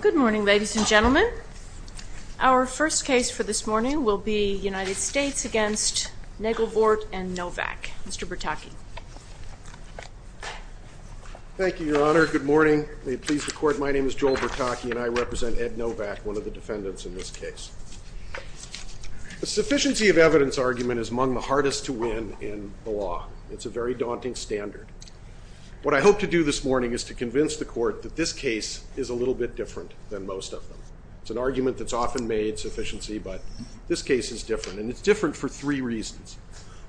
Good morning, ladies and gentlemen. Our first case for this morning will be United States v. Naglevoort v. Novak. Mr. Bertocchi. Thank you, Your Honor. Good morning. May it please the Court, my name is Joel Bertocchi and I represent Ed Novak, one of the defendants in this case. A sufficiency of evidence argument is among the hardest to win in the law. It's a very daunting standard. What I hope to do this morning is to convince the Court that this case is a little bit different than most of them. It's an argument that's often made sufficiency but this case is different and it's different for three reasons.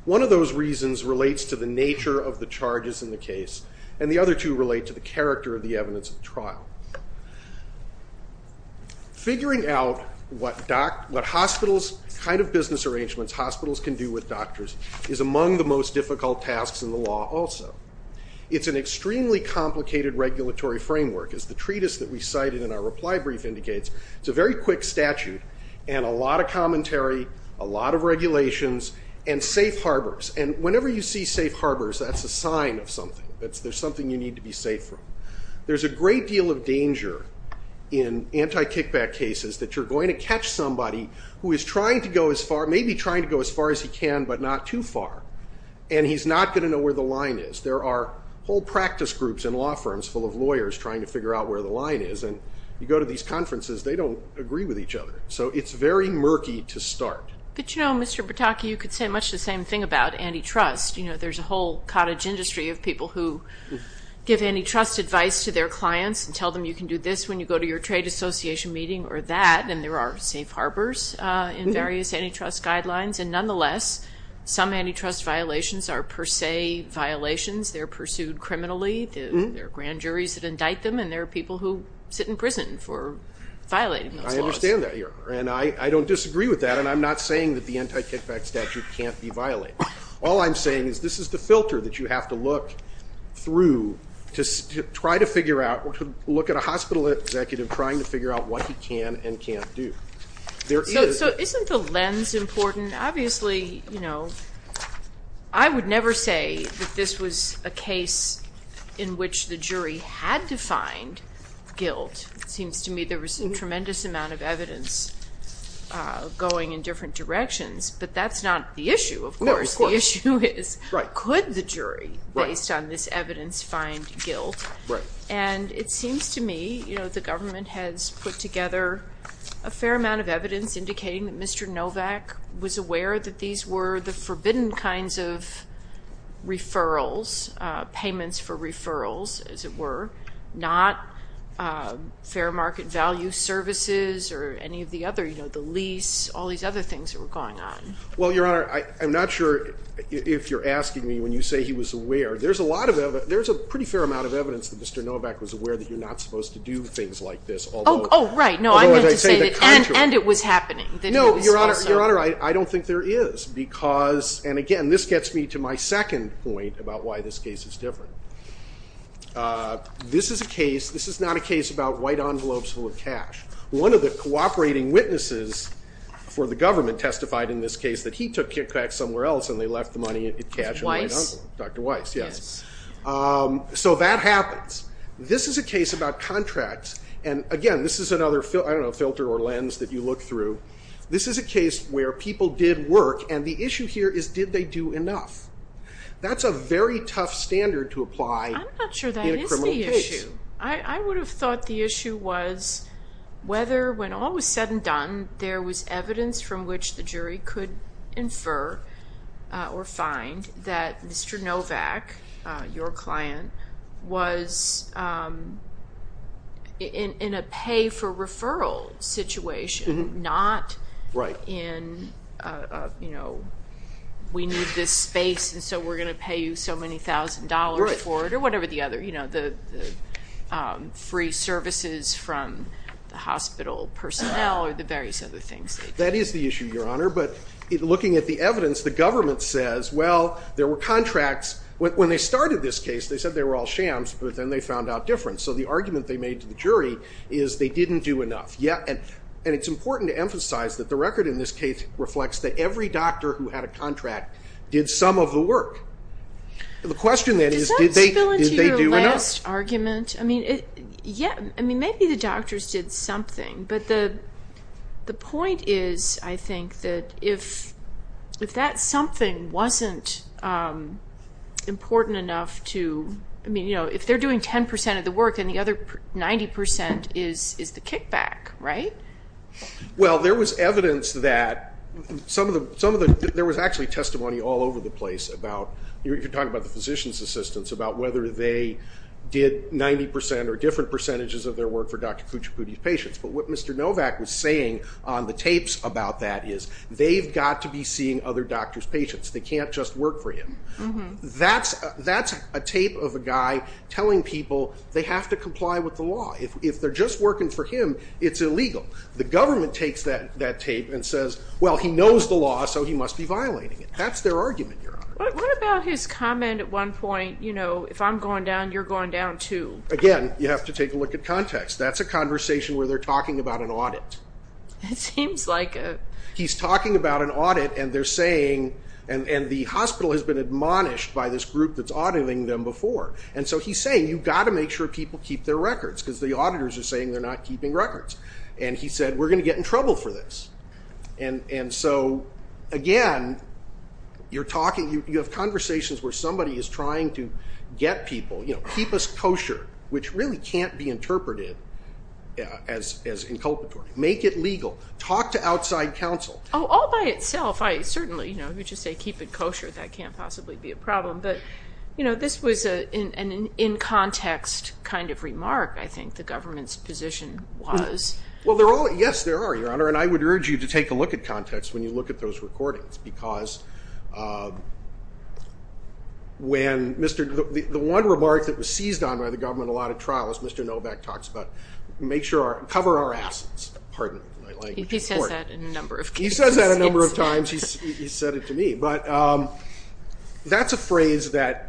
One of those reasons relates to the nature of the charges in the case and the other two relate to the character of the evidence of trial. Figuring out what hospitals, what kind of business arrangements hospitals can do with doctors is among the most difficult tasks in the law also. It's an extremely complicated regulatory framework. As the treatise that we cited in our reply brief indicates, it's a very quick statute and a lot of commentary, a lot of regulations and safe harbors. And whenever you see safe harbors, that's a sign of something. There's something you need to be safe from. There's a great deal of danger in anti-kickback cases that you're going to catch somebody who is maybe trying to go as far as he can but not too far. And he's not going to know where the line is. There are whole practice groups in law firms full of lawyers trying to figure out where the line is. And you go to these conferences, they don't agree with each other. So it's very murky to start. But you know, Mr. Bertocchi, you could say much the same thing about antitrust. There's a whole cottage industry of people who give antitrust advice to their clients and tell them you can do this when you go to your trade association meeting or that. And there are safe harbors in various antitrust guidelines. And nonetheless, some antitrust violations are per se violations. They're pursued criminally. There are grand juries that indict them. And there are people who sit in prison for violating those laws. I understand that. And I don't disagree with that. And I'm not saying that the anti-kickback statute can't be violated. All I'm saying is this is the filter that you have to look through to try to figure out or to look at a hospital executive trying to figure out what he can and can't do. So isn't the lens important? Obviously, you know, I would never say that this was a case in which the jury had to find guilt. It seems to me there was a tremendous amount of evidence going in different directions. But that's not the issue, of course. The issue is could the jury, based on this evidence, find guilt. And it seems to me the government has put together a fair amount of evidence indicating that Mr. Novak was aware that these were the forbidden kinds of referrals, payments for referrals, as it were, not fair market value services or any of the other, you know, the lease, all these other things that were going on. Well, Your Honor, I'm not sure if you're asking me when you say he was aware. There's a lot of evidence. There's a pretty fair amount of evidence that Mr. Novak was aware that you're not supposed to do things like this, although I'm going to say the contrary. Oh, right. No, I meant to say that, and it was happening, that he was also – No, Your Honor, I don't think there is, because – and again, this gets me to my second point about why this case is different. This is a case – this is not a case about white envelopes full of cash. One of the cooperating witnesses for the government testified in this case that he took KitKat somewhere else, and they left the money in cash and went on to – Weiss. Dr. Weiss, yes. So that happens. This is a case about contracts, and again, this is another, I don't know, filter or lens that you look through. This is a case where people did work, and the issue here is, did they do enough? That's a very tough standard to apply in a criminal case. I'm not sure that is the issue. I would have thought the issue was whether, when all was said and done, there was evidence from which the jury could infer or find that Mr. Novak, your client, was in a pay-for-referral situation, not in a, you know, we need this space, and so we're going to pay you so many thousand dollars for it, or whatever the other, you know, the free services from the hospital personnel or the various other things. That is the issue, Your Honor, but looking at the evidence, the government says, well, there were contracts. When they started this case, they said they were all shams, but then they found out difference. So the argument they made to the jury is they didn't do enough. And it's important to emphasize that the record in this case reflects that every doctor who had a contract did some of the work. The question then is, did they do enough? Was that your last argument? I mean, maybe the doctors did something, but the point is, I think, that if that something wasn't important enough to, I mean, you know, if they're doing 10% of the work and the other 90% is the kickback, right? Well, there was evidence that, some of the, there was actually testimony all over the case that they did 90% or different percentages of their work for Dr. Kuchipudi's patients. But what Mr. Novak was saying on the tapes about that is, they've got to be seeing other doctors' patients. They can't just work for him. That's a tape of a guy telling people they have to comply with the law. If they're just working for him, it's illegal. The government takes that tape and says, well, he knows the law, so he must be violating it. That's their argument, Your Honor. What about his comment at one point, you know, if I'm going down, you're going down too? Again, you have to take a look at context. That's a conversation where they're talking about an audit. It seems like it. He's talking about an audit and they're saying, and the hospital has been admonished by this group that's auditing them before. And so he's saying, you've got to make sure people keep their records because the auditors are saying they're not keeping records. And he said, we're going to get in trouble for this. And so, again, you're talking, you have conversations where somebody is trying to get people, you know, keep us kosher, which really can't be interpreted as inculpatory. Make it legal. Talk to outside counsel. Oh, all by itself. I certainly, you know, if you just say keep it kosher, that can't possibly be a problem. But, you know, this was an in-context kind of remark, I think, the government's position was. Well, they're all, yes, there are, Your Honor. And I would urge you to take a look at context when you look at those recordings. Because when Mr., the one remark that was seized on by the government a lot of trials, Mr. Novak talks about, make sure our, cover our asses. Pardon my language. He says that a number of times. He says that a number of times. He said it to me. But that's a phrase that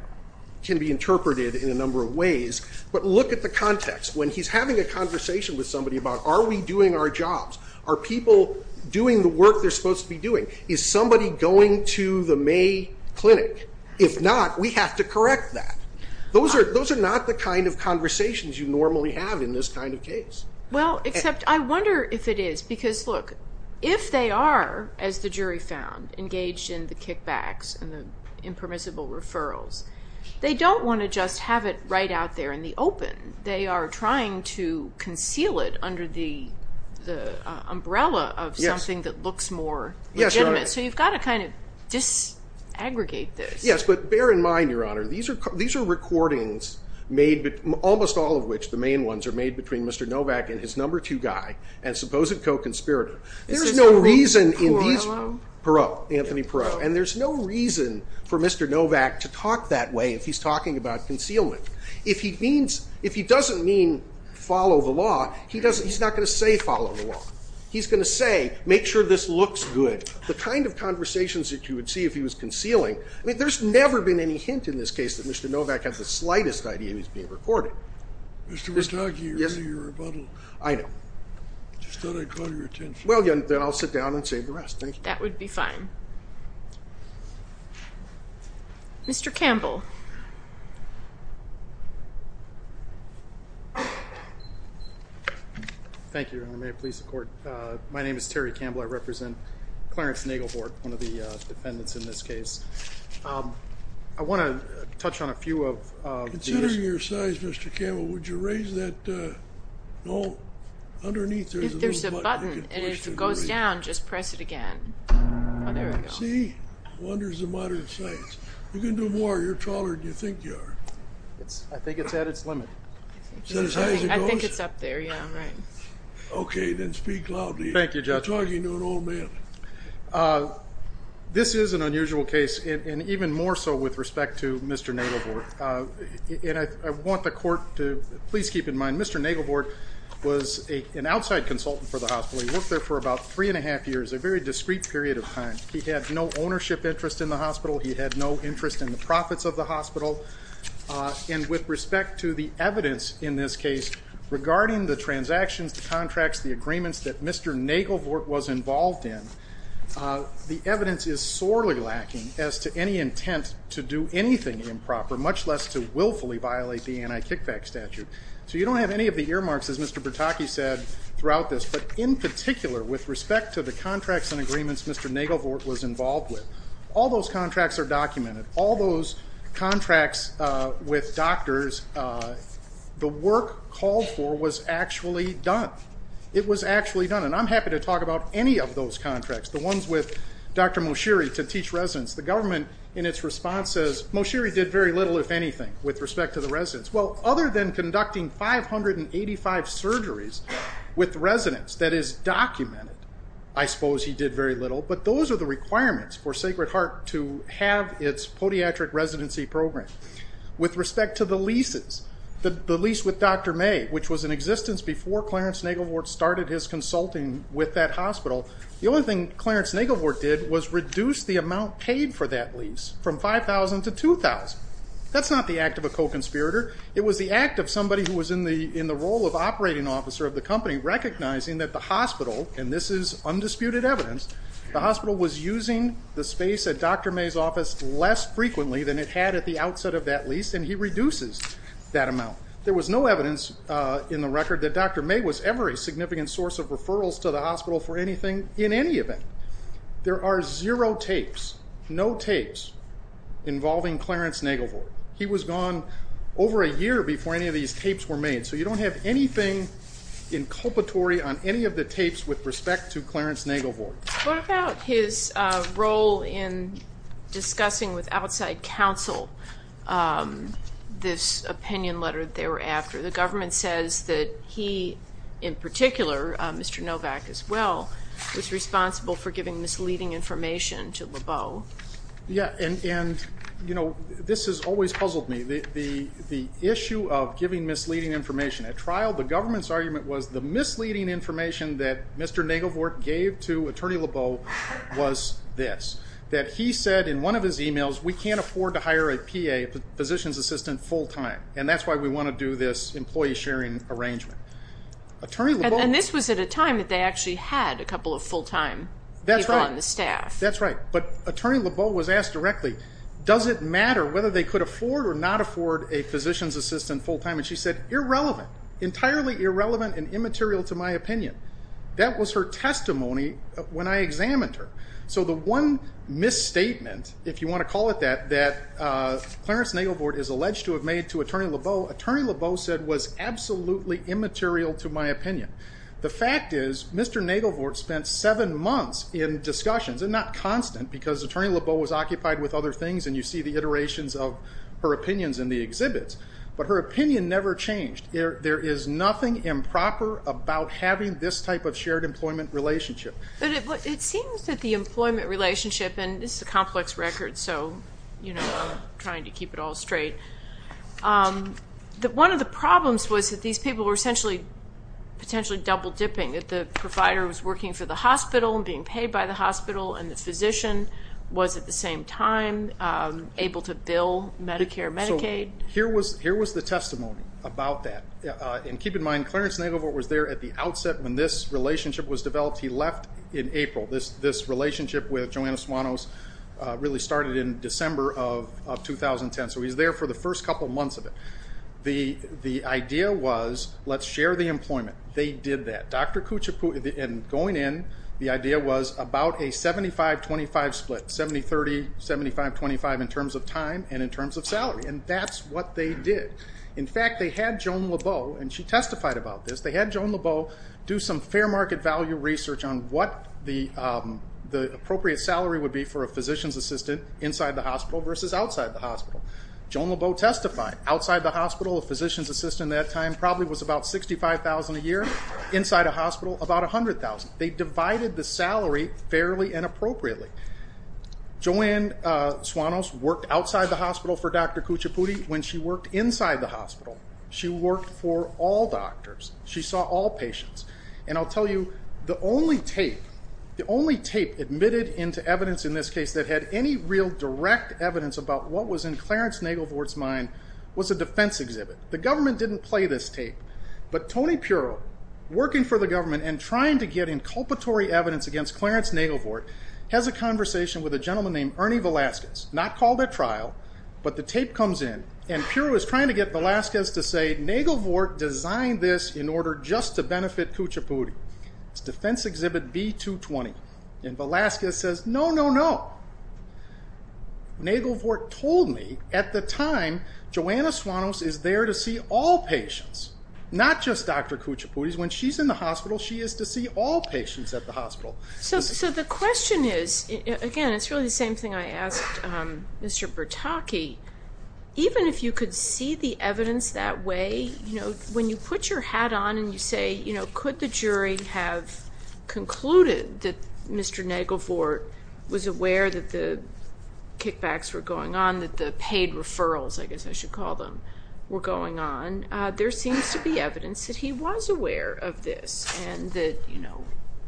can be interpreted in a number of ways. But look at the context. When he's having a conversation with somebody are we doing our jobs? Are people doing the work they're supposed to be doing? Is somebody going to the May Clinic? If not, we have to correct that. Those are not the kind of conversations you normally have in this kind of case. Well, except I wonder if it is. Because, look, if they are, as the jury found, engaged in the kickbacks and the impermissible referrals, they don't want to just have it right out there in trying to conceal it under the umbrella of something that looks more legitimate. So you've got to kind of disaggregate this. Yes, but bear in mind, Your Honor, these are recordings made, almost all of which, the main ones, are made between Mr. Novak and his number two guy and supposed co-conspirator. There's no reason in these, Perot, Anthony Perot, and there's no reason for Mr. Novak to talk that way if he's talking about concealment. If he doesn't mean follow the law, he's not going to say follow the law. He's going to say make sure this looks good. The kind of conversations that you would see if he was concealing, I mean, there's never been any hint in this case that Mr. Novak had the slightest idea he was being recorded. Mr. Wartage, you're in your rebuttal. I know. I just thought I caught your attention. Well, then I'll sit down and save the rest. Thank you. That would be fine. Mr. Campbell. Thank you, Your Honor. May it please the court. My name is Terry Campbell. I represent Clarence Nagelhort, one of the defendants in this case. I want to touch on a few of these. Considering your size, Mr. Campbell, would you raise that, no, underneath there's a little button. If there's a button and if it goes down, just press it again. Oh, there we go. See? Wonders of modern science. You can do more. You're taller than you think you are. I think it's at its limit. I think it's up there, yeah, right. Okay, then speak loudly. Thank you, Judge. You're talking to an old man. This is an unusual case, and even more so with respect to Mr. Nagelhort. And I want the court to please keep in mind, Mr. Nagelhort was an outside consultant for the period of time. He had no ownership interest in the hospital. He had no interest in the profits of the hospital. And with respect to the evidence in this case regarding the transactions, the contracts, the agreements that Mr. Nagelhort was involved in, the evidence is sorely lacking as to any intent to do anything improper, much less to willfully violate the anti-kickback statute. So you don't have any of the earmarks, as Mr. Bertocchi said, throughout this. In particular, with respect to the contracts and agreements Mr. Nagelhort was involved with, all those contracts are documented. All those contracts with doctors, the work called for was actually done. It was actually done. And I'm happy to talk about any of those contracts, the ones with Dr. Moshiri to teach residents. The government, in its response, says Moshiri did very little, if anything, with respect to the residents. Other than conducting 585 surgeries with residents, that is documented, I suppose he did very little. But those are the requirements for Sacred Heart to have its podiatric residency program. With respect to the leases, the lease with Dr. May, which was in existence before Clarence Nagelhort started his consulting with that hospital, the only thing Clarence Nagelhort did was reduce the amount paid for that lease from $5,000 to $2,000. That's not the act of co-conspirator. It was the act of somebody who was in the role of operating officer of the company recognizing that the hospital, and this is undisputed evidence, the hospital was using the space at Dr. May's office less frequently than it had at the outset of that lease, and he reduces that amount. There was no evidence in the record that Dr. May was ever a significant source of referrals to the hospital for anything in any event. There are zero tapes, no tapes involving Clarence Nagelhort. He was gone over a year before any of these tapes were made, so you don't have anything inculpatory on any of the tapes with respect to Clarence Nagelhort. What about his role in discussing with outside counsel this opinion letter they were after? The government says that he, in particular, Mr. Novak as well, was responsible for giving misleading information to Lebeau. This has always puzzled me. The issue of giving misleading information at trial, the government's argument was the misleading information that Mr. Nagelhort gave to Attorney Lebeau was this, that he said in one of his emails, we can't afford to hire a PA, positions assistant, full time, and that's why we want to do this employee sharing arrangement. Attorney Lebeau... And this was at a time that they actually had a couple of full time people on the staff. That's right. But Attorney Lebeau was asked directly, does it matter whether they could afford or not afford a physicians assistant full time? And she said, irrelevant, entirely irrelevant and immaterial to my opinion. That was her testimony when I examined her. So the one misstatement, if you want to call it that, that Clarence Nagelhort is alleged to have Attorney Lebeau said was absolutely immaterial to my opinion. The fact is Mr. Nagelhort spent seven months in discussions and not constant because Attorney Lebeau was occupied with other things and you see the iterations of her opinions in the exhibits, but her opinion never changed. There is nothing improper about having this type of shared employment relationship. But it seems that the employment relationship, and this is a complex record, so I'm trying to keep it all straight. One of the problems was that these people were essentially potentially double dipping, that the provider was working for the hospital and being paid by the hospital and the physician was at the same time able to bill Medicare, Medicaid. Here was the testimony about that. And keep in mind, Clarence Nagelhort was there at the outset when this relationship was developed. He left in April. This relationship with Joanna Suanos really started in December of 2010. So he's there for the first couple months of it. The idea was let's share the employment. They did that. Dr. Kuchiput and going in, the idea was about a 75-25 split, 70-30, 75-25 in terms of time and in terms of salary. And that's what they did. In fact, they had Joan Lebeau and she testified about this. They had Joan Lebeau do some fair market value research on what the appropriate salary would be for a physician's assistant inside the hospital versus outside the hospital. Joan Lebeau testified. Outside the hospital, a physician's assistant at that time probably was about $65,000 a year. Inside a hospital, about $100,000. They divided the salary fairly and appropriately. Joanne Suanos worked outside the hospital for Dr. Kuchiput when she worked inside the hospital. She worked for all patients. And I'll tell you, the only tape, the only tape admitted into evidence in this case that had any real direct evidence about what was in Clarence Nagelvort's mind was a defense exhibit. The government didn't play this tape. But Tony Puro, working for the government and trying to get inculpatory evidence against Clarence Nagelvort, has a conversation with a gentleman named Ernie Velasquez. Not called at trial, but the tape comes in. And Puro is trying to get Velasquez to say, Nagelvort designed this in order just to benefit Kuchiput. It's defense exhibit B-220. And Velasquez says, no, no, no. Nagelvort told me at the time, Joanne Suanos is there to see all patients, not just Dr. Kuchiput. When she's in the hospital, she is to see all patients at the hospital. So the question is, again, it's really the same thing I asked Mr. Bertocchi. Even if you could see the evidence that way, when you put your hat on and you say, could the jury have concluded that Mr. Nagelvort was aware that the kickbacks were going on, that the paid referrals, I guess I should call them, were going on, there seems to be evidence that he was aware of this.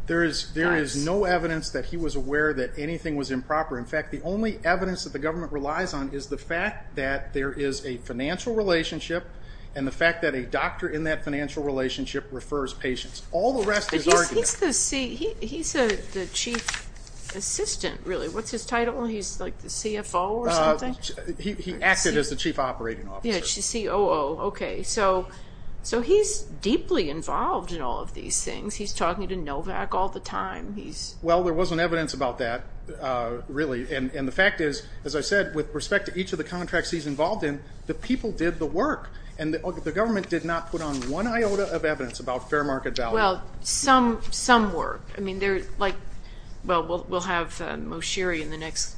There is no evidence that he was aware that anything was improper. In fact, the only evidence that the government relies on is the fact that there is a financial relationship and the fact that a doctor in that financial relationship refers patients. All the rest is argument. He's the chief assistant, really. What's his title? He's like the CFO or something? He acted as the chief operating officer. COO. Okay. So he's deeply involved in all of these things. He's talking to Novak all the time. There wasn't evidence about that, really. The fact is, as I said, with respect to each of the contracts he's involved in, the people did the work. The government did not put on one iota of evidence about fair market value. Well, some work. We'll have Moshiri in the next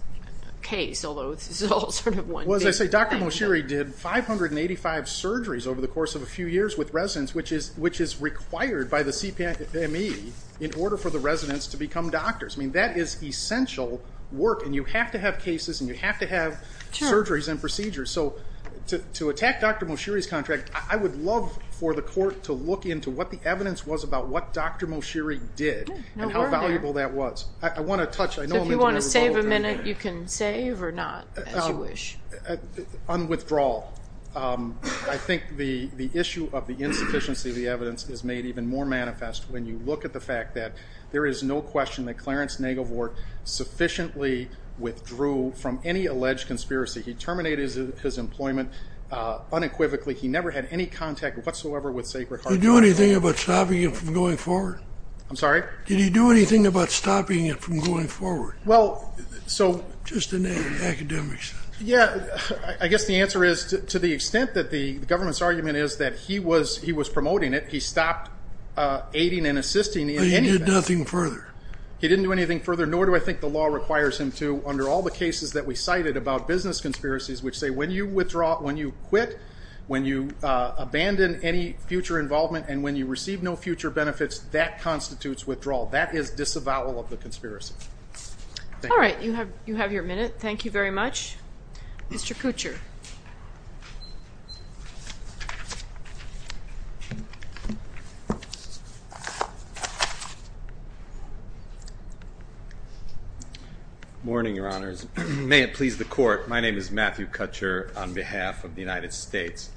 case, although this is all sort of one big thing. Dr. Moshiri did 585 surgeries over the course of a few years with residents, which is required by the CPME in order for the residents to become doctors. That is essential work. You have to have cases and you have to have surgeries and procedures. To attack Dr. Moshiri's contract, I would love for the court to look into what the evidence was about what Dr. Moshiri did and how valuable that was. I want to touch. If you want to save a minute, you can save or not, as you wish. On withdrawal, I think the issue of the insufficiency of the evidence is made even more manifest when you look at the fact that there is no question that Clarence Negovort sufficiently withdrew from any alleged conspiracy. He terminated his employment unequivocally. He never had any contact whatsoever with Sacred Heart. Did he do anything about stopping it from going forward? I'm sorry? Did he do anything about stopping it from going forward? Just in an academic sense. Yeah, I guess the answer is, to the extent that the government's argument is that he was promoting it, he stopped aiding and assisting in any of that. But he did nothing further? He didn't do anything further, nor do I think the law requires him to, under all the cases that we cited about business conspiracies, which say when you withdraw, when you quit, when you abandon any future involvement, and when you receive no future benefits, that constitutes withdrawal. That is disavowal of the conspiracy. All right, you have your minute. Thank you very much. Mr. Kutcher. Morning, Your Honors. May it please the Court, my name is Matthew Kutcher on behalf of the United States.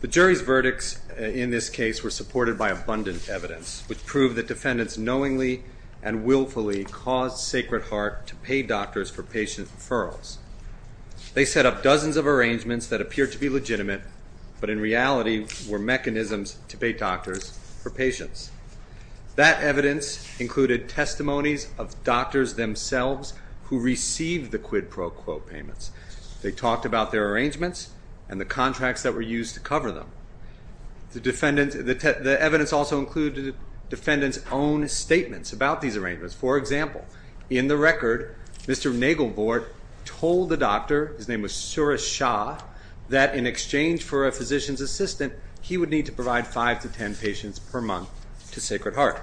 The jury's verdicts in this case were supported by abundant evidence, which proved that defendants knowingly and willfully caused Sacred Heart to pay doctors for patient referrals. They set up dozens of arrangements that appear to be legitimate, but in reality were mechanisms to pay doctors for patients. That evidence included testimonies of doctors themselves who received the quid pro quo payments. They talked about their arrangements and the contracts that were used to cover them. The evidence also included defendants' own statements about these His name was Suresh Shah, that in exchange for a physician's assistant, he would need to provide five to ten patients per month to Sacred Heart.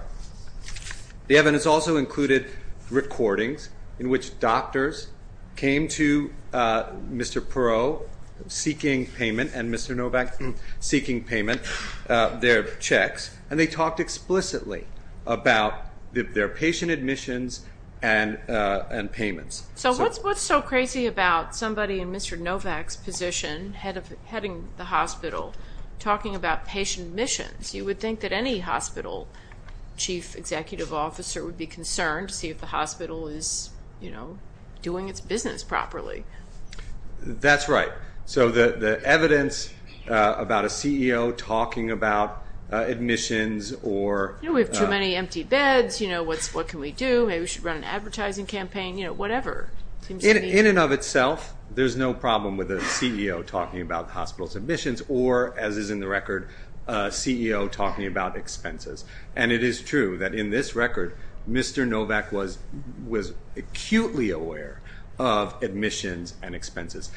The evidence also included recordings in which doctors came to Mr. Perot seeking payment and Mr. Novak seeking payment, their checks, and they talked explicitly about their patient admissions and payments. So what's so crazy about somebody in Mr. Novak's position heading the hospital talking about patient admissions? You would think that any hospital chief executive officer would be concerned to see if the hospital is, you know, doing its business properly. That's right. So the evidence about a CEO talking about admissions or... You know, we have too many empty beds, you know, what can we do? Maybe we should run an In and of itself, there's no problem with a CEO talking about the hospital's admissions or, as is in the record, a CEO talking about expenses. And it is true that in this record, Mr. Novak was acutely aware of admissions and expenses.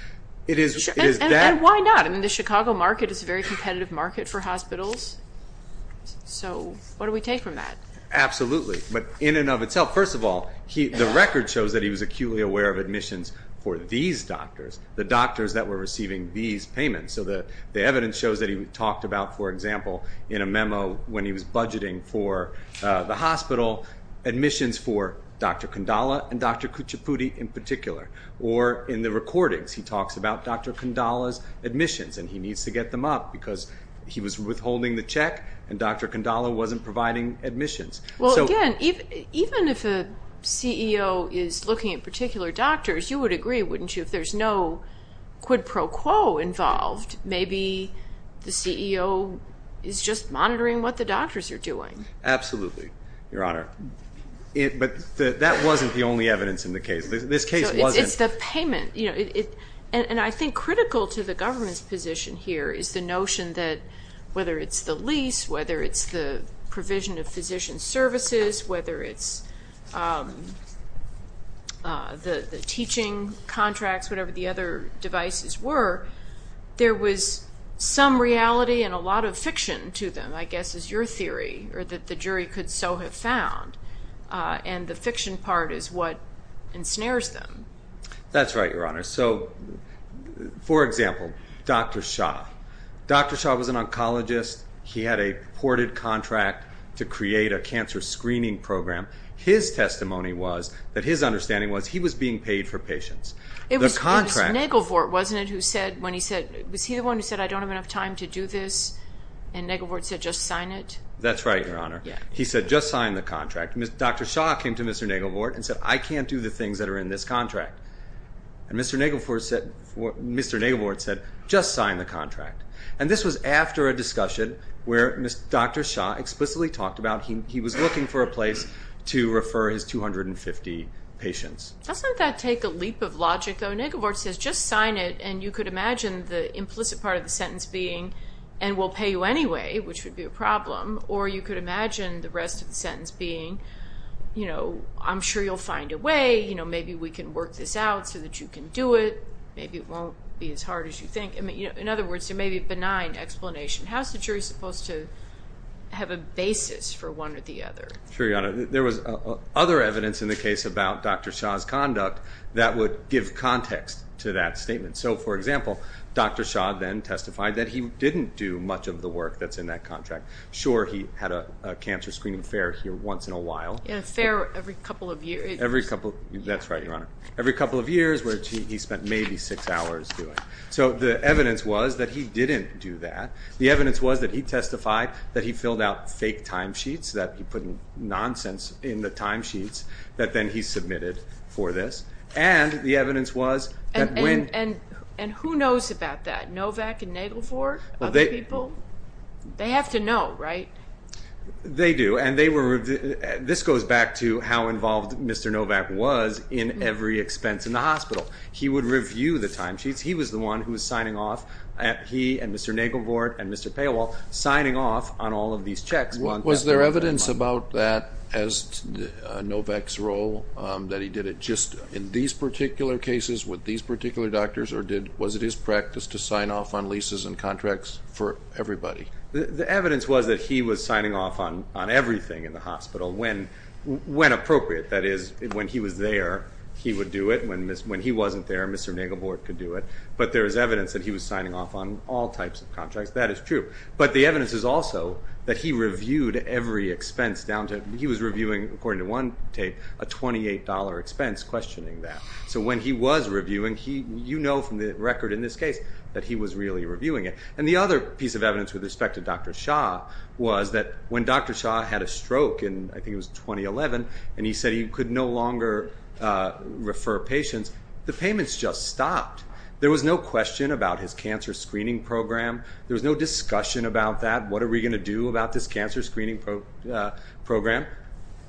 And why not? I mean, the Chicago market is a very competitive market for hospitals. So what do we take from that? Absolutely. But in and of itself, first of all, the record shows that he was acutely aware of admissions for these doctors, the doctors that were receiving these payments. So the evidence shows that he talked about, for example, in a memo when he was budgeting for the hospital admissions for Dr. Kandala and Dr. Kuchipudi in particular. Or in the recordings, he talks about Dr. Kandala's admissions and he needs to get them up because he was withholding the check and Dr. Kandala wasn't providing admissions. Well, again, even if a CEO is looking at particular doctors, you would agree, wouldn't you, if there's no quid pro quo involved, maybe the CEO is just monitoring what the doctors are doing. Absolutely, Your Honor. But that wasn't the only evidence in the case. This case wasn't. It's the payment. And I think critical to the provision of physician services, whether it's the teaching contracts, whatever the other devices were, there was some reality and a lot of fiction to them, I guess is your theory, or that the jury could so have found. And the fiction part is what ensnares them. That's right, Your Honor. So, for example, Dr. Shah. Dr. Shah was an oncologist. He had a ported contract to create a cancer screening program. His testimony was that his understanding was he was being paid for patients. It was Negelvort, wasn't it, who said, when he said, was he the one who said, I don't have enough time to do this? And Negelvort said, just sign it? That's right, Your Honor. He said, just sign the contract. Dr. Shah came to Mr. Negelvort and said, I can't do the things that are in this contract. And Mr. Negelvort said, just sign the contract. And this was after a discussion where Dr. Shah explicitly talked about he was looking for a place to refer his 250 patients. Doesn't that take a leap of logic, though? Negelvort says, just sign it, and you could imagine the implicit part of the sentence being, and we'll pay you anyway, which would be a problem. Or you could imagine the rest of the sentence being, I'm sure you'll find a way. Maybe we can work this out so that you can do it. Maybe it won't be as hard as you think. In other words, there may be a benign explanation. How's the jury supposed to have a basis for one or the other? Sure, Your Honor. There was other evidence in the case about Dr. Shah's conduct that would give context to that statement. So for example, Dr. Shah then testified that he didn't do much of the work that's in that contract. Sure, he had a cancer screening fair here once in a while. Yeah, a fair every couple of years. Every couple, that's right, Your Honor. Every couple of years, which he spent maybe six hours doing. So the evidence was that he didn't do that. The evidence was that he testified that he filled out fake timesheets, that he put nonsense in the timesheets that then he submitted for this. And the evidence was that when- And who knows about that? Novak and Nagelvord? Other people? They have to know, right? They do. And this goes back to how involved Mr. Novak was in every expense in the hospital. He would review the timesheets. He was the one who was signing off, he and Mr. Nagelvord and Mr. Paywall, signing off on all of these checks. Was there evidence about that as Novak's role, that he did it just in these particular cases, with these particular doctors, or was it his practice to sign off on leases and contracts for everybody? The evidence was that he was signing off on everything in the hospital when appropriate. That is, when he was there, he would do it. When he wasn't there, Mr. Nagelvord could do it. But there is evidence that he was signing off on all types of contracts. That is true. But the evidence is also that he reviewed every expense down to- He was reviewing, according to one tape, a $28 expense questioning that. So when he was reviewing, you know from the record in this case that he was really reviewing it. And the other piece of evidence with respect to Dr. Shah was that when Dr. Shah had a stroke in, I think it was 2011, and he said he could no longer refer patients, the payments just stopped. There was no question about his cancer screening program. There was no discussion about that. What are we going to do about this cancer screening program?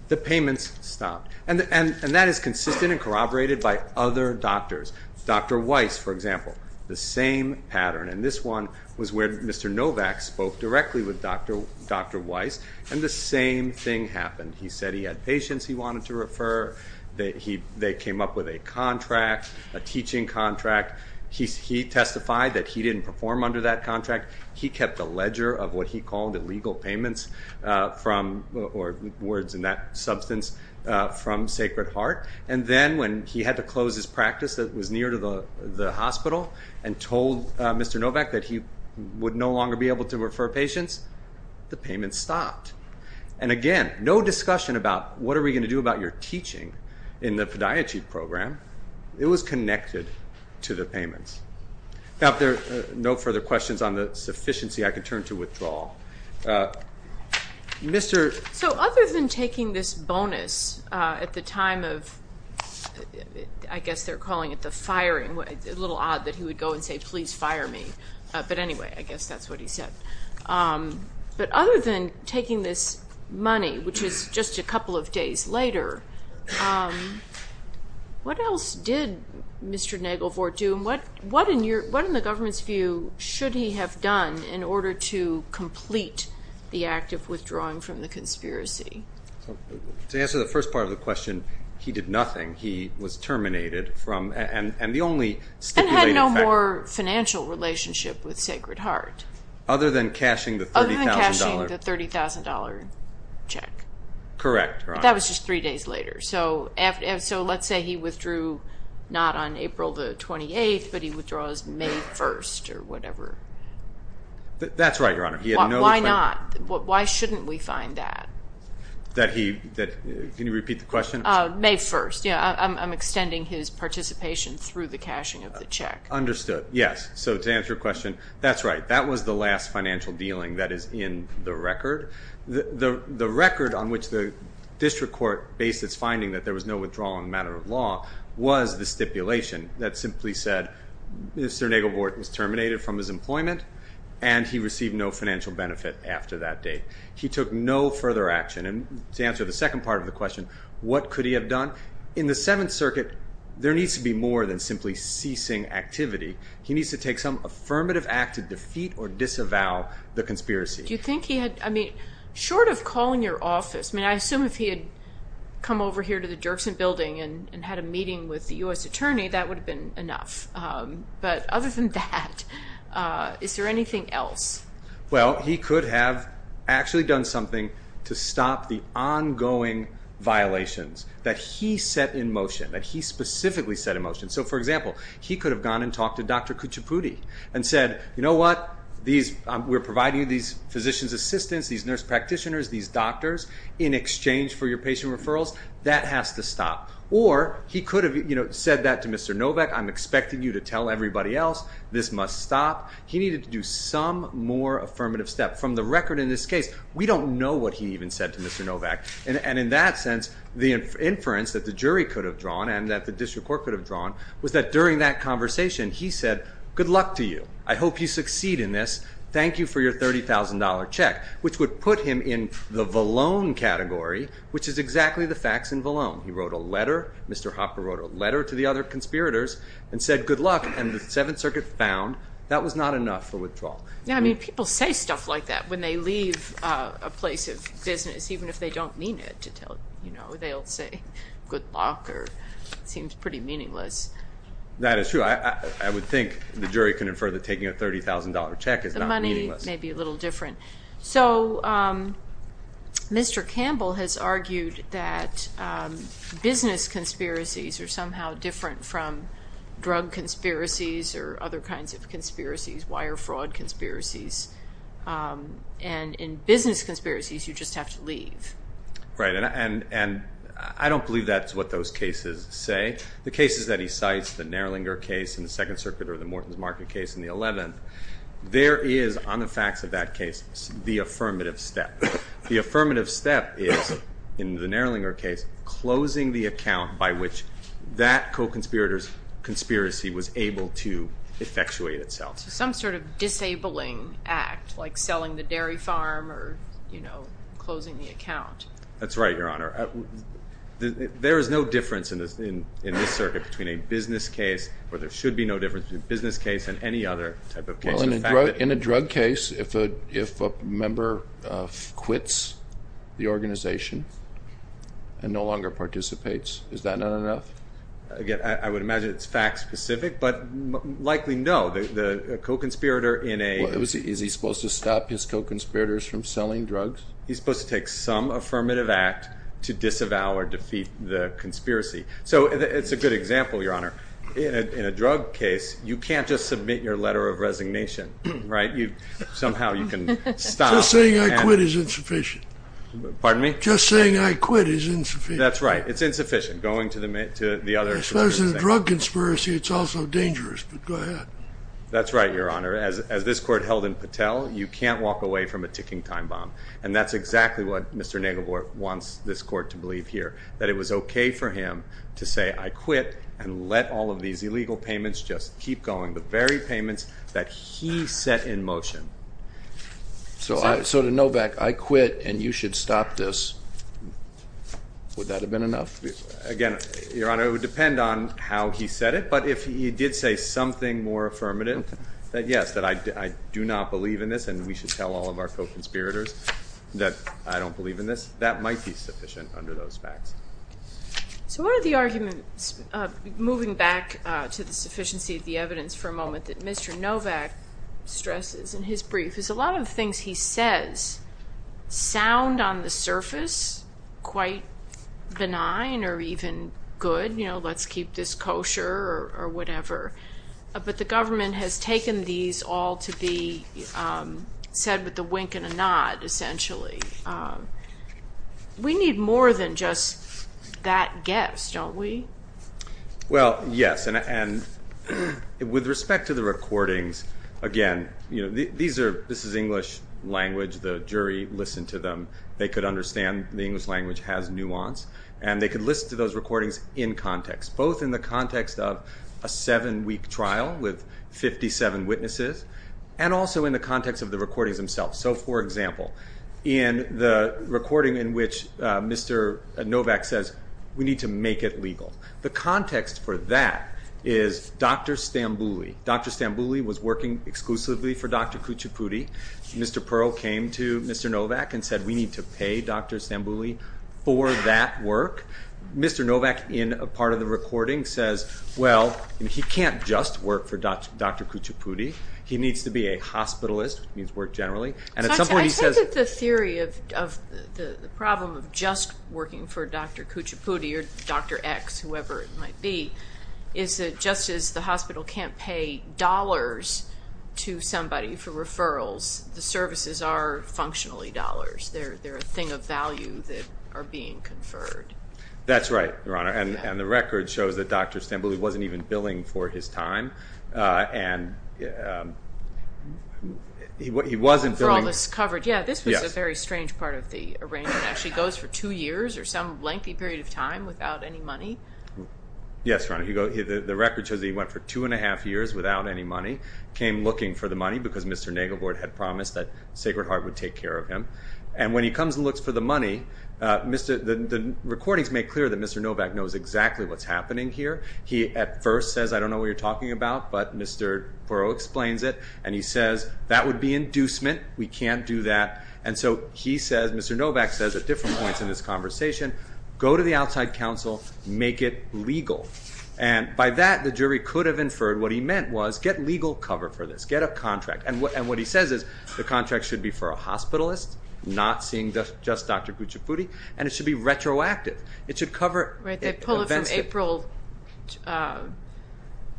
The payments stopped. And that is consistent and corroborated by other doctors. Dr. Weiss, for example, the same pattern. And this one was where Mr. Novak spoke directly with Dr. Weiss, and the same thing happened. He said he had patients he wanted to refer. They came up with a contract, a teaching contract. He testified that he didn't perform under that contract. He kept a ledger of what he called illegal payments from, or words in that substance, from Sacred Heart. And then when he had to close his practice that was near to the hospital and told Mr. Novak that he would no longer be able to refer patients, the payments stopped. And again, no discussion about what are we going to do about your teaching in the podiatry program. It was connected to the payments. Now, if there are no further questions on the sufficiency, I can turn to withdrawal. Mr. So other than taking this bonus at the time of, I guess they're calling it the firing, a little odd that he would go and say, please fire me. But anyway, I guess that's what he said. But other than taking this money, which is just a couple of days later, what else did Mr. Nagelvord do? What, in the government's view, should he have done in order to complete the act of withdrawing from the conspiracy? To answer the first part of the question, he did nothing. He was terminated from, and the only stipulated fact- And had no more financial relationship with Sacred Heart. Other than cashing the $30,000- Other than cashing the $30,000 check. Correct, Your Honor. That was just three days later. So let's say he withdrew not on April the 28th, but he withdraws May 1st or whatever. That's right, Your Honor. He had no- Why not? Why shouldn't we find that? Can you repeat the question? May 1st. Yeah, I'm extending his participation through the cashing of the check. Understood, yes. So to answer your question, that's right. That was the last financial dealing that is in the record. The record on which the district court based its finding that there was no withdrawal in a matter of law was the stipulation that simply said, Mr. Nagle-Wharton is terminated from his employment, and he received no financial benefit after that date. He took no further action. And to answer the second part of the question, what could he have done? In the Seventh Circuit, there needs to be more than simply ceasing activity. He needs to take some affirmative act to defeat or disavow the conspiracy. I mean, short of calling your office, I mean, I assume if he had come over here to the Dirksen building and had a meeting with the U.S. attorney, that would have been enough. But other than that, is there anything else? Well, he could have actually done something to stop the ongoing violations that he set in motion, that he specifically set in motion. So for example, he could have gone and talked to Dr. Kuchipudi and said, you know what, we're providing you these physician's assistants, these nurse practitioners, these doctors in exchange for your patient referrals, that has to stop. Or he could have said that to Mr. Novak, I'm expecting you to tell everybody else, this must stop. He needed to do some more affirmative step. From the record in this case, we don't know what he even said to Mr. Novak. And in that sense, the inference that the jury could have drawn and that the district court could have drawn was that during that conversation, he said, good luck to you. I hope you succeed in this. Thank you for your $30,000 check, which would put him in the Valone category, which is exactly the facts in Valone. He wrote a letter. Mr. Hopper wrote a letter to the other conspirators and said, good luck. And the Seventh Circuit found that was not enough for withdrawal. Now, I mean, people say stuff like that when they leave a place of business, even if they don't mean it. To tell, you know, they'll say, good luck, or it seems pretty meaningless. That is true. I would think the jury can infer that taking a $30,000 check is not meaningless. The money may be a little different. So Mr. Campbell has argued that business conspiracies are somehow different from drug conspiracies or other kinds of conspiracies, wire fraud conspiracies. And in business conspiracies, you just have to leave. Right. And I don't believe that's what those cases say. The cases that he cites, the Nerlinger case in the Second Circuit or the Morton's Market case in the 11th, there is, on the facts of that case, the affirmative step. The affirmative step is, in the Nerlinger case, closing the account by which that co-conspirator's conspiracy was able to effectuate itself. Some sort of disabling act, like selling the dairy farm or, you know, closing the account. That's right, Your Honor. There is no difference in this circuit between a business case, or there should be no difference between a business case and any other type of case. Well, in a drug case, if a member quits the organization and no longer participates, is that not enough? Again, I would imagine it's fact-specific, but likely no. The co-conspirator in a- Is he supposed to stop his co-conspirators from selling drugs? He's supposed to take some affirmative act to disavow or defeat the conspiracy. So it's a good example, Your Honor. In a drug case, you can't just submit your letter of resignation, right? Somehow you can stop- Just saying I quit is insufficient. Pardon me? Just saying I quit is insufficient. That's right. It's insufficient, going to the other- As far as a drug conspiracy, it's also dangerous, but go ahead. That's right, Your Honor. As this Court held in Patel, you can't walk away from a ticking time bomb. And that's exactly what Mr. Naglevort wants this Court to believe here, that it was okay for him to say, I quit and let all of these illegal payments just keep going. The very payments that he set in motion. So to Novak, I quit and you should stop this. Would that have been enough? Again, Your Honor, it would depend on how he said it. But if he did say something more affirmative, that yes, that I do not believe in this and we should tell all of our co-conspirators. That I don't believe in this, that might be sufficient under those facts. So one of the arguments, moving back to the sufficiency of the evidence for a moment, that Mr. Novak stresses in his brief is a lot of things he says sound on the surface quite benign or even good. You know, let's keep this kosher or whatever. But the government has taken these all to be said with a wink and a nod, essentially. We need more than just that guess, don't we? Well, yes. With respect to the recordings, again, this is English language. The jury listened to them. They could understand the English language has nuance. And they could listen to those recordings in context, both in the context of a seven-week trial with 57 witnesses and also in the context of the recordings themselves. So, for example, in the recording in which Mr. Novak says, we need to make it legal. The context for that is Dr. Stambouli. Dr. Stambouli was working exclusively for Dr. Kuchipudi. Mr. Pearl came to Mr. Novak and said, we need to pay Dr. Stambouli for that work. Mr. Novak, in a part of the recording, says, well, he can't just work for Dr. Kuchipudi. He needs to be a hospitalist, which means work generally. I take it the theory of the problem of just working for Dr. Kuchipudi or Dr. X, whoever it might be, is that just as the hospital can't pay dollars to somebody for referrals, the services are functionally dollars. They're a thing of value that are being conferred. That's right, Your Honor. And the record shows that Dr. Stambouli wasn't even billing for his time. And he wasn't billing- For all this coverage. Yeah, this was a very strange part of the arrangement. Actually goes for two years or some lengthy period of time without any money. Yes, Your Honor. The record shows that he went for two and a half years without any money, came looking for the money because Mr. Nagelbord had promised that Sacred Heart would take care of him. And when he comes and looks for the money, the recordings make clear that Mr. Novak knows exactly what's happening here. He at first says, I don't know what you're talking about, but Mr. Porro explains it. And he says, that would be inducement. We can't do that. And so he says, Mr. Novak says at different points in this conversation, go to the outside counsel, make it legal. And by that, the jury could have inferred what he meant was get legal cover for this, get a contract. And what he says is the contract should be for a hospitalist, not seeing just Dr. Kuchipudi. And it should be retroactive. It should cover- They pull it from April,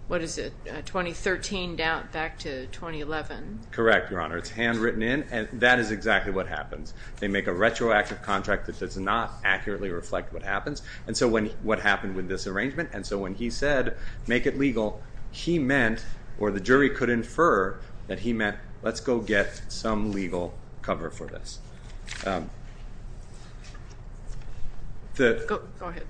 what is it, 2013 back to 2011. Correct, Your Honor. It's handwritten in. And that is exactly what happens. They make a retroactive contract that does not accurately reflect what happens. And so what happened with this arrangement? And so when he said, make it legal, he meant, or the jury could infer, that he meant, let's go get some legal cover for this. Go ahead.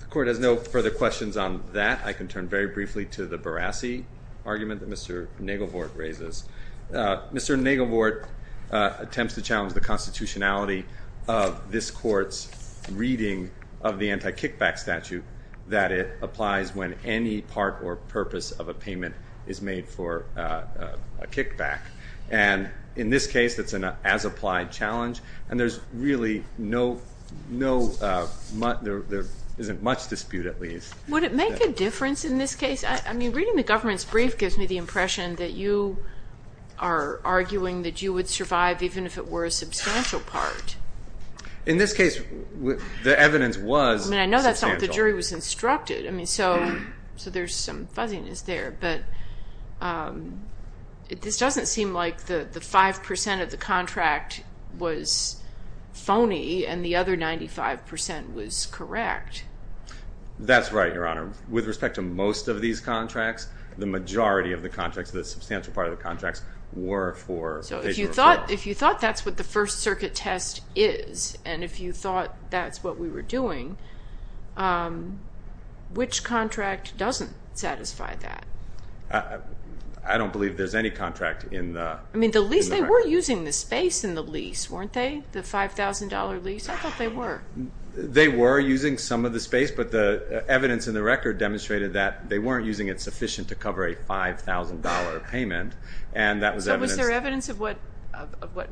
The court has no further questions on that. I can turn very briefly to the Barassi argument that Mr. Nagelvort raises. Mr. Nagelvort attempts to challenge the constitutionality of this court's reading of the anti-kickback statute that it applies when any part or purpose of a payment is made for a kickback. And in this case, that's an as-applied challenge. And there's really no, there isn't much dispute, at least. Would it make a difference in this case? I mean, reading the government's brief gives me the impression that you are arguing that you would survive even if it were a substantial part. In this case, the evidence was substantial. I mean, I know that's not what the jury was instructed. I mean, so there's some fuzziness there. But this doesn't seem like the 5% of the contract was phony and the other 95% was correct. That's right, Your Honor. With respect to most of these contracts, the majority of the contracts, the substantial part of the contracts, were for a substantial amount. If you thought that's what the First Circuit test is, and if you thought that's what we were doing, which contract doesn't satisfy that? I don't believe there's any contract in the record. I mean, the lease, they were using the space in the lease, weren't they? The $5,000 lease? I thought they were. They were using some of the space, but the evidence in the record demonstrated that they weren't using it sufficient to cover a $5,000 payment. And that was evidence. So was there evidence of what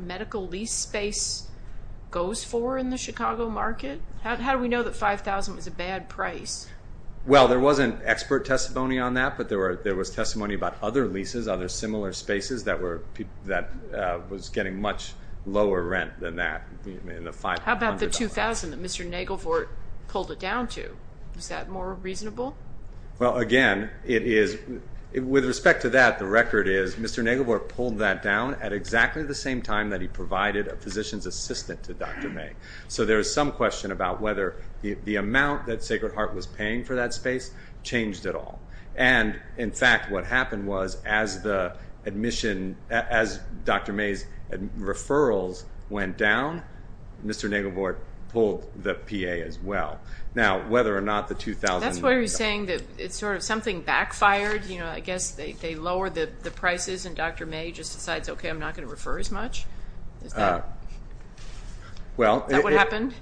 medical lease space goes for in the Chicago market? How do we know that $5,000 was a bad price? Well, there wasn't expert testimony on that, there was testimony about other leases, other similar spaces that was getting much lower rent than that in the $5,000. How about the $2,000 that Mr. Nagelvort pulled it down to? Is that more reasonable? Well, again, it is. With respect to that, the record is Mr. Nagelvort pulled that down at exactly the same time that he provided a physician's assistant to Dr. May. So there is some question about whether the amount that Sacred Heart was paying for that space changed at all. And in fact, what happened was as the admission, as Dr. May's referrals went down, Mr. Nagelvort pulled the PA as well. Now, whether or not the $2,000... That's why you're saying that it's sort of something backfired, you know, I guess they lowered the prices and Dr. May just decides, okay, I'm not going to refer as much? Is that what happened?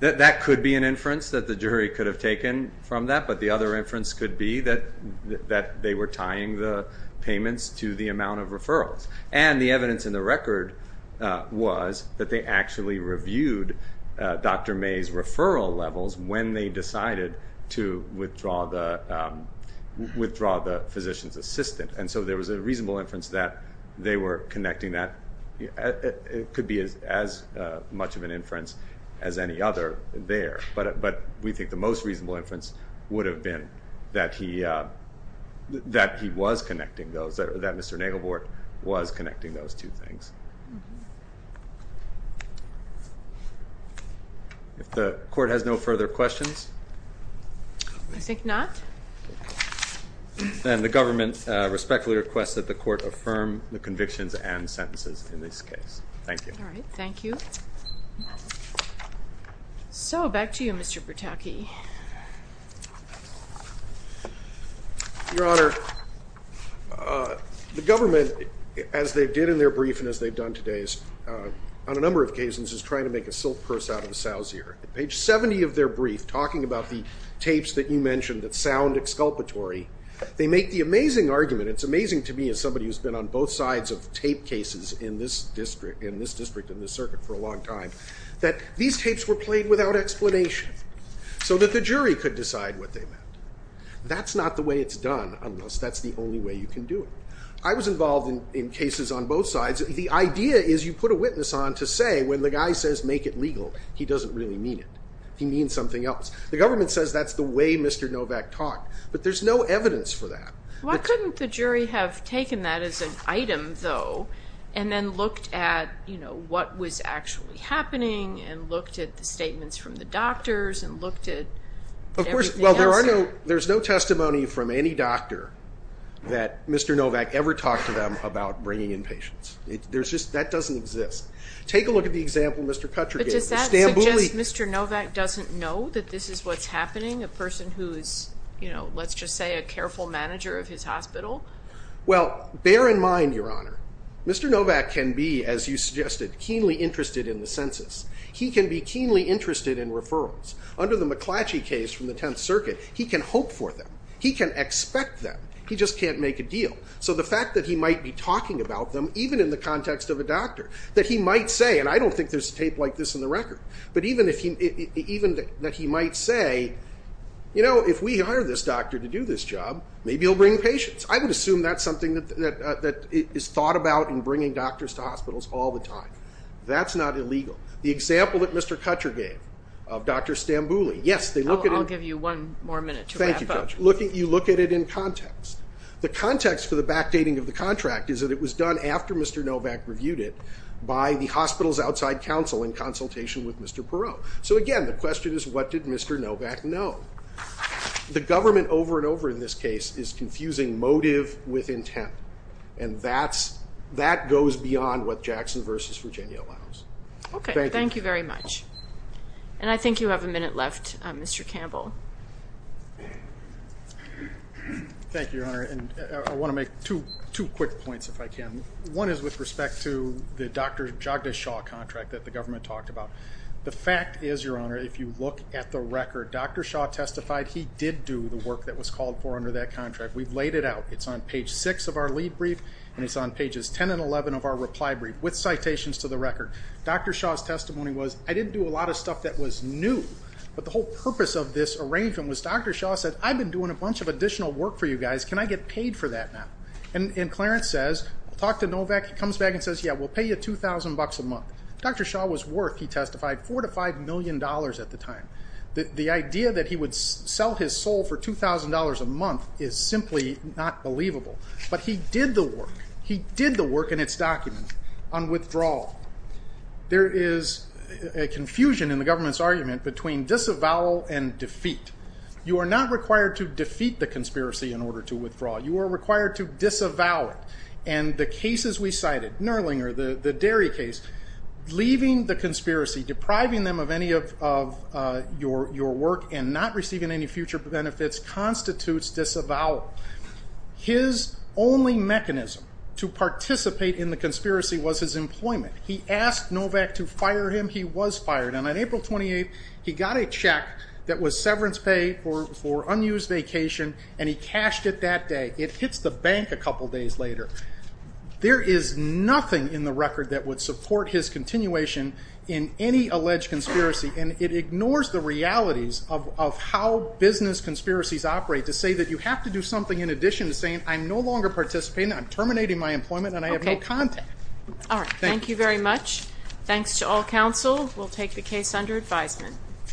That could be an inference that the jury could have taken from that. The other inference could be that they were tying the payments to the amount of referrals. And the evidence in the record was that they actually reviewed Dr. May's referral levels when they decided to withdraw the physician's assistant. And so there was a reasonable inference that they were connecting that. It could be as much of an inference as any other there. But we think the most reasonable inference would have been that he was connecting those, that Mr. Nagelvort was connecting those two things. If the court has no further questions? I think not. Then the government respectfully requests that the court affirm the convictions and sentences in this case. Thank you. All right, thank you. So back to you, Mr. Bertocchi. Your Honor, the government, as they did in their brief and as they've done today, on a number of cases is trying to make a silk purse out of a sow's ear. Page 70 of their brief, talking about the tapes that you mentioned that sound exculpatory, they make the amazing argument, it's amazing to me as somebody who's been on both sides of tape cases in this district and this circuit for a long time, that these tapes were played without explanation so that the jury could decide what they meant. That's not the way it's done unless that's the only way you can do it. I was involved in cases on both sides. The idea is you put a witness on to say when the guy says make it legal, he doesn't really mean it. He means something else. The government says that's the way Mr. Novak talked, but there's no evidence for that. Why couldn't the jury have taken that as an item though and then looked at what was actually happening and looked at the statements from the doctors and looked at everything else? There's no testimony from any doctor that Mr. Novak ever talked to them about bringing in patients. That doesn't exist. Take a look at the example Mr. Kutcher gave. But does that suggest Mr. Novak doesn't know that this is what's happening? A person who is, let's just say, a careful manager of his hospital? Well, bear in mind, Your Honor, Mr. Novak can be, as you suggested, keenly interested in the census. He can be keenly interested in referrals. Under the McClatchy case from the Tenth Circuit, he can hope for them. He can expect them. He just can't make a deal. So the fact that he might be talking about them, even in the context of a doctor, that he might say, and I don't think there's a tape like this in the record, but even that he might say, you know, if we hire this doctor to do this job, maybe he'll bring patients. I would assume that's something that is thought about in bringing doctors to hospitals all the time. That's not illegal. The example that Mr. Kutcher gave of Dr. Stambouli. Yes, they look at it. I'll give you one more minute to wrap up. Thank you, Judge. You look at it in context. The context for the backdating of the contract is that it was done after Mr. Novak reviewed it by the hospital's outside counsel in consultation with Mr. Perot. So again, the question is, what did Mr. Novak know? The government over and over in this case is confusing motive with intent. And that goes beyond what Jackson v. Virginia allows. Okay. Thank you very much. And I think you have a minute left, Mr. Campbell. Thank you, Your Honor. And I want to make two quick points, if I can. One is with respect to the Dr. Jagdish Shah contract that the government talked about. The fact is, Your Honor, if you look at the record, Dr. Shah testified he did do the work that was called for under that contract. We've laid it out. It's on page six of our lead brief. And it's on pages 10 and 11 of our reply brief with citations to the record. Dr. Shah's testimony was, I didn't do a lot of stuff that was new. But the whole purpose of this arrangement was Dr. Shah said, I've been doing a bunch of additional work for you guys. Can I get paid for that now? And Clarence says, I'll talk to Novak. He comes back and says, yeah, we'll pay you $2,000 a month. Dr. Shah was worth, he testified, $4 to $5 million at the time. The idea that he would sell his soul for $2,000 a month is simply not believable. But he did the work. He did the work in its document on withdrawal. There is a confusion in the government's argument between disavowal and defeat. You are not required to defeat the conspiracy in order to withdraw. You are required to disavow it. And the cases we cited, Nerlinger, the dairy case, leaving the conspiracy, depriving them of any of your work and not receiving any future benefits constitutes disavowal. His only mechanism to participate in the conspiracy was his employment. He asked Novak to fire him. He was fired. And on April 28th, he got a check that was severance pay for unused vacation. And he cashed it that day. It hits the bank a couple days later. There is nothing in the record that would support his continuation in any alleged conspiracy. And it ignores the realities of how business conspiracies operate to say that you have to do something in addition to saying, I'm no longer participating. I'm terminating my employment. And I have no contact. All right. Thank you very much. Thanks to all counsel. We'll take the case under advisement.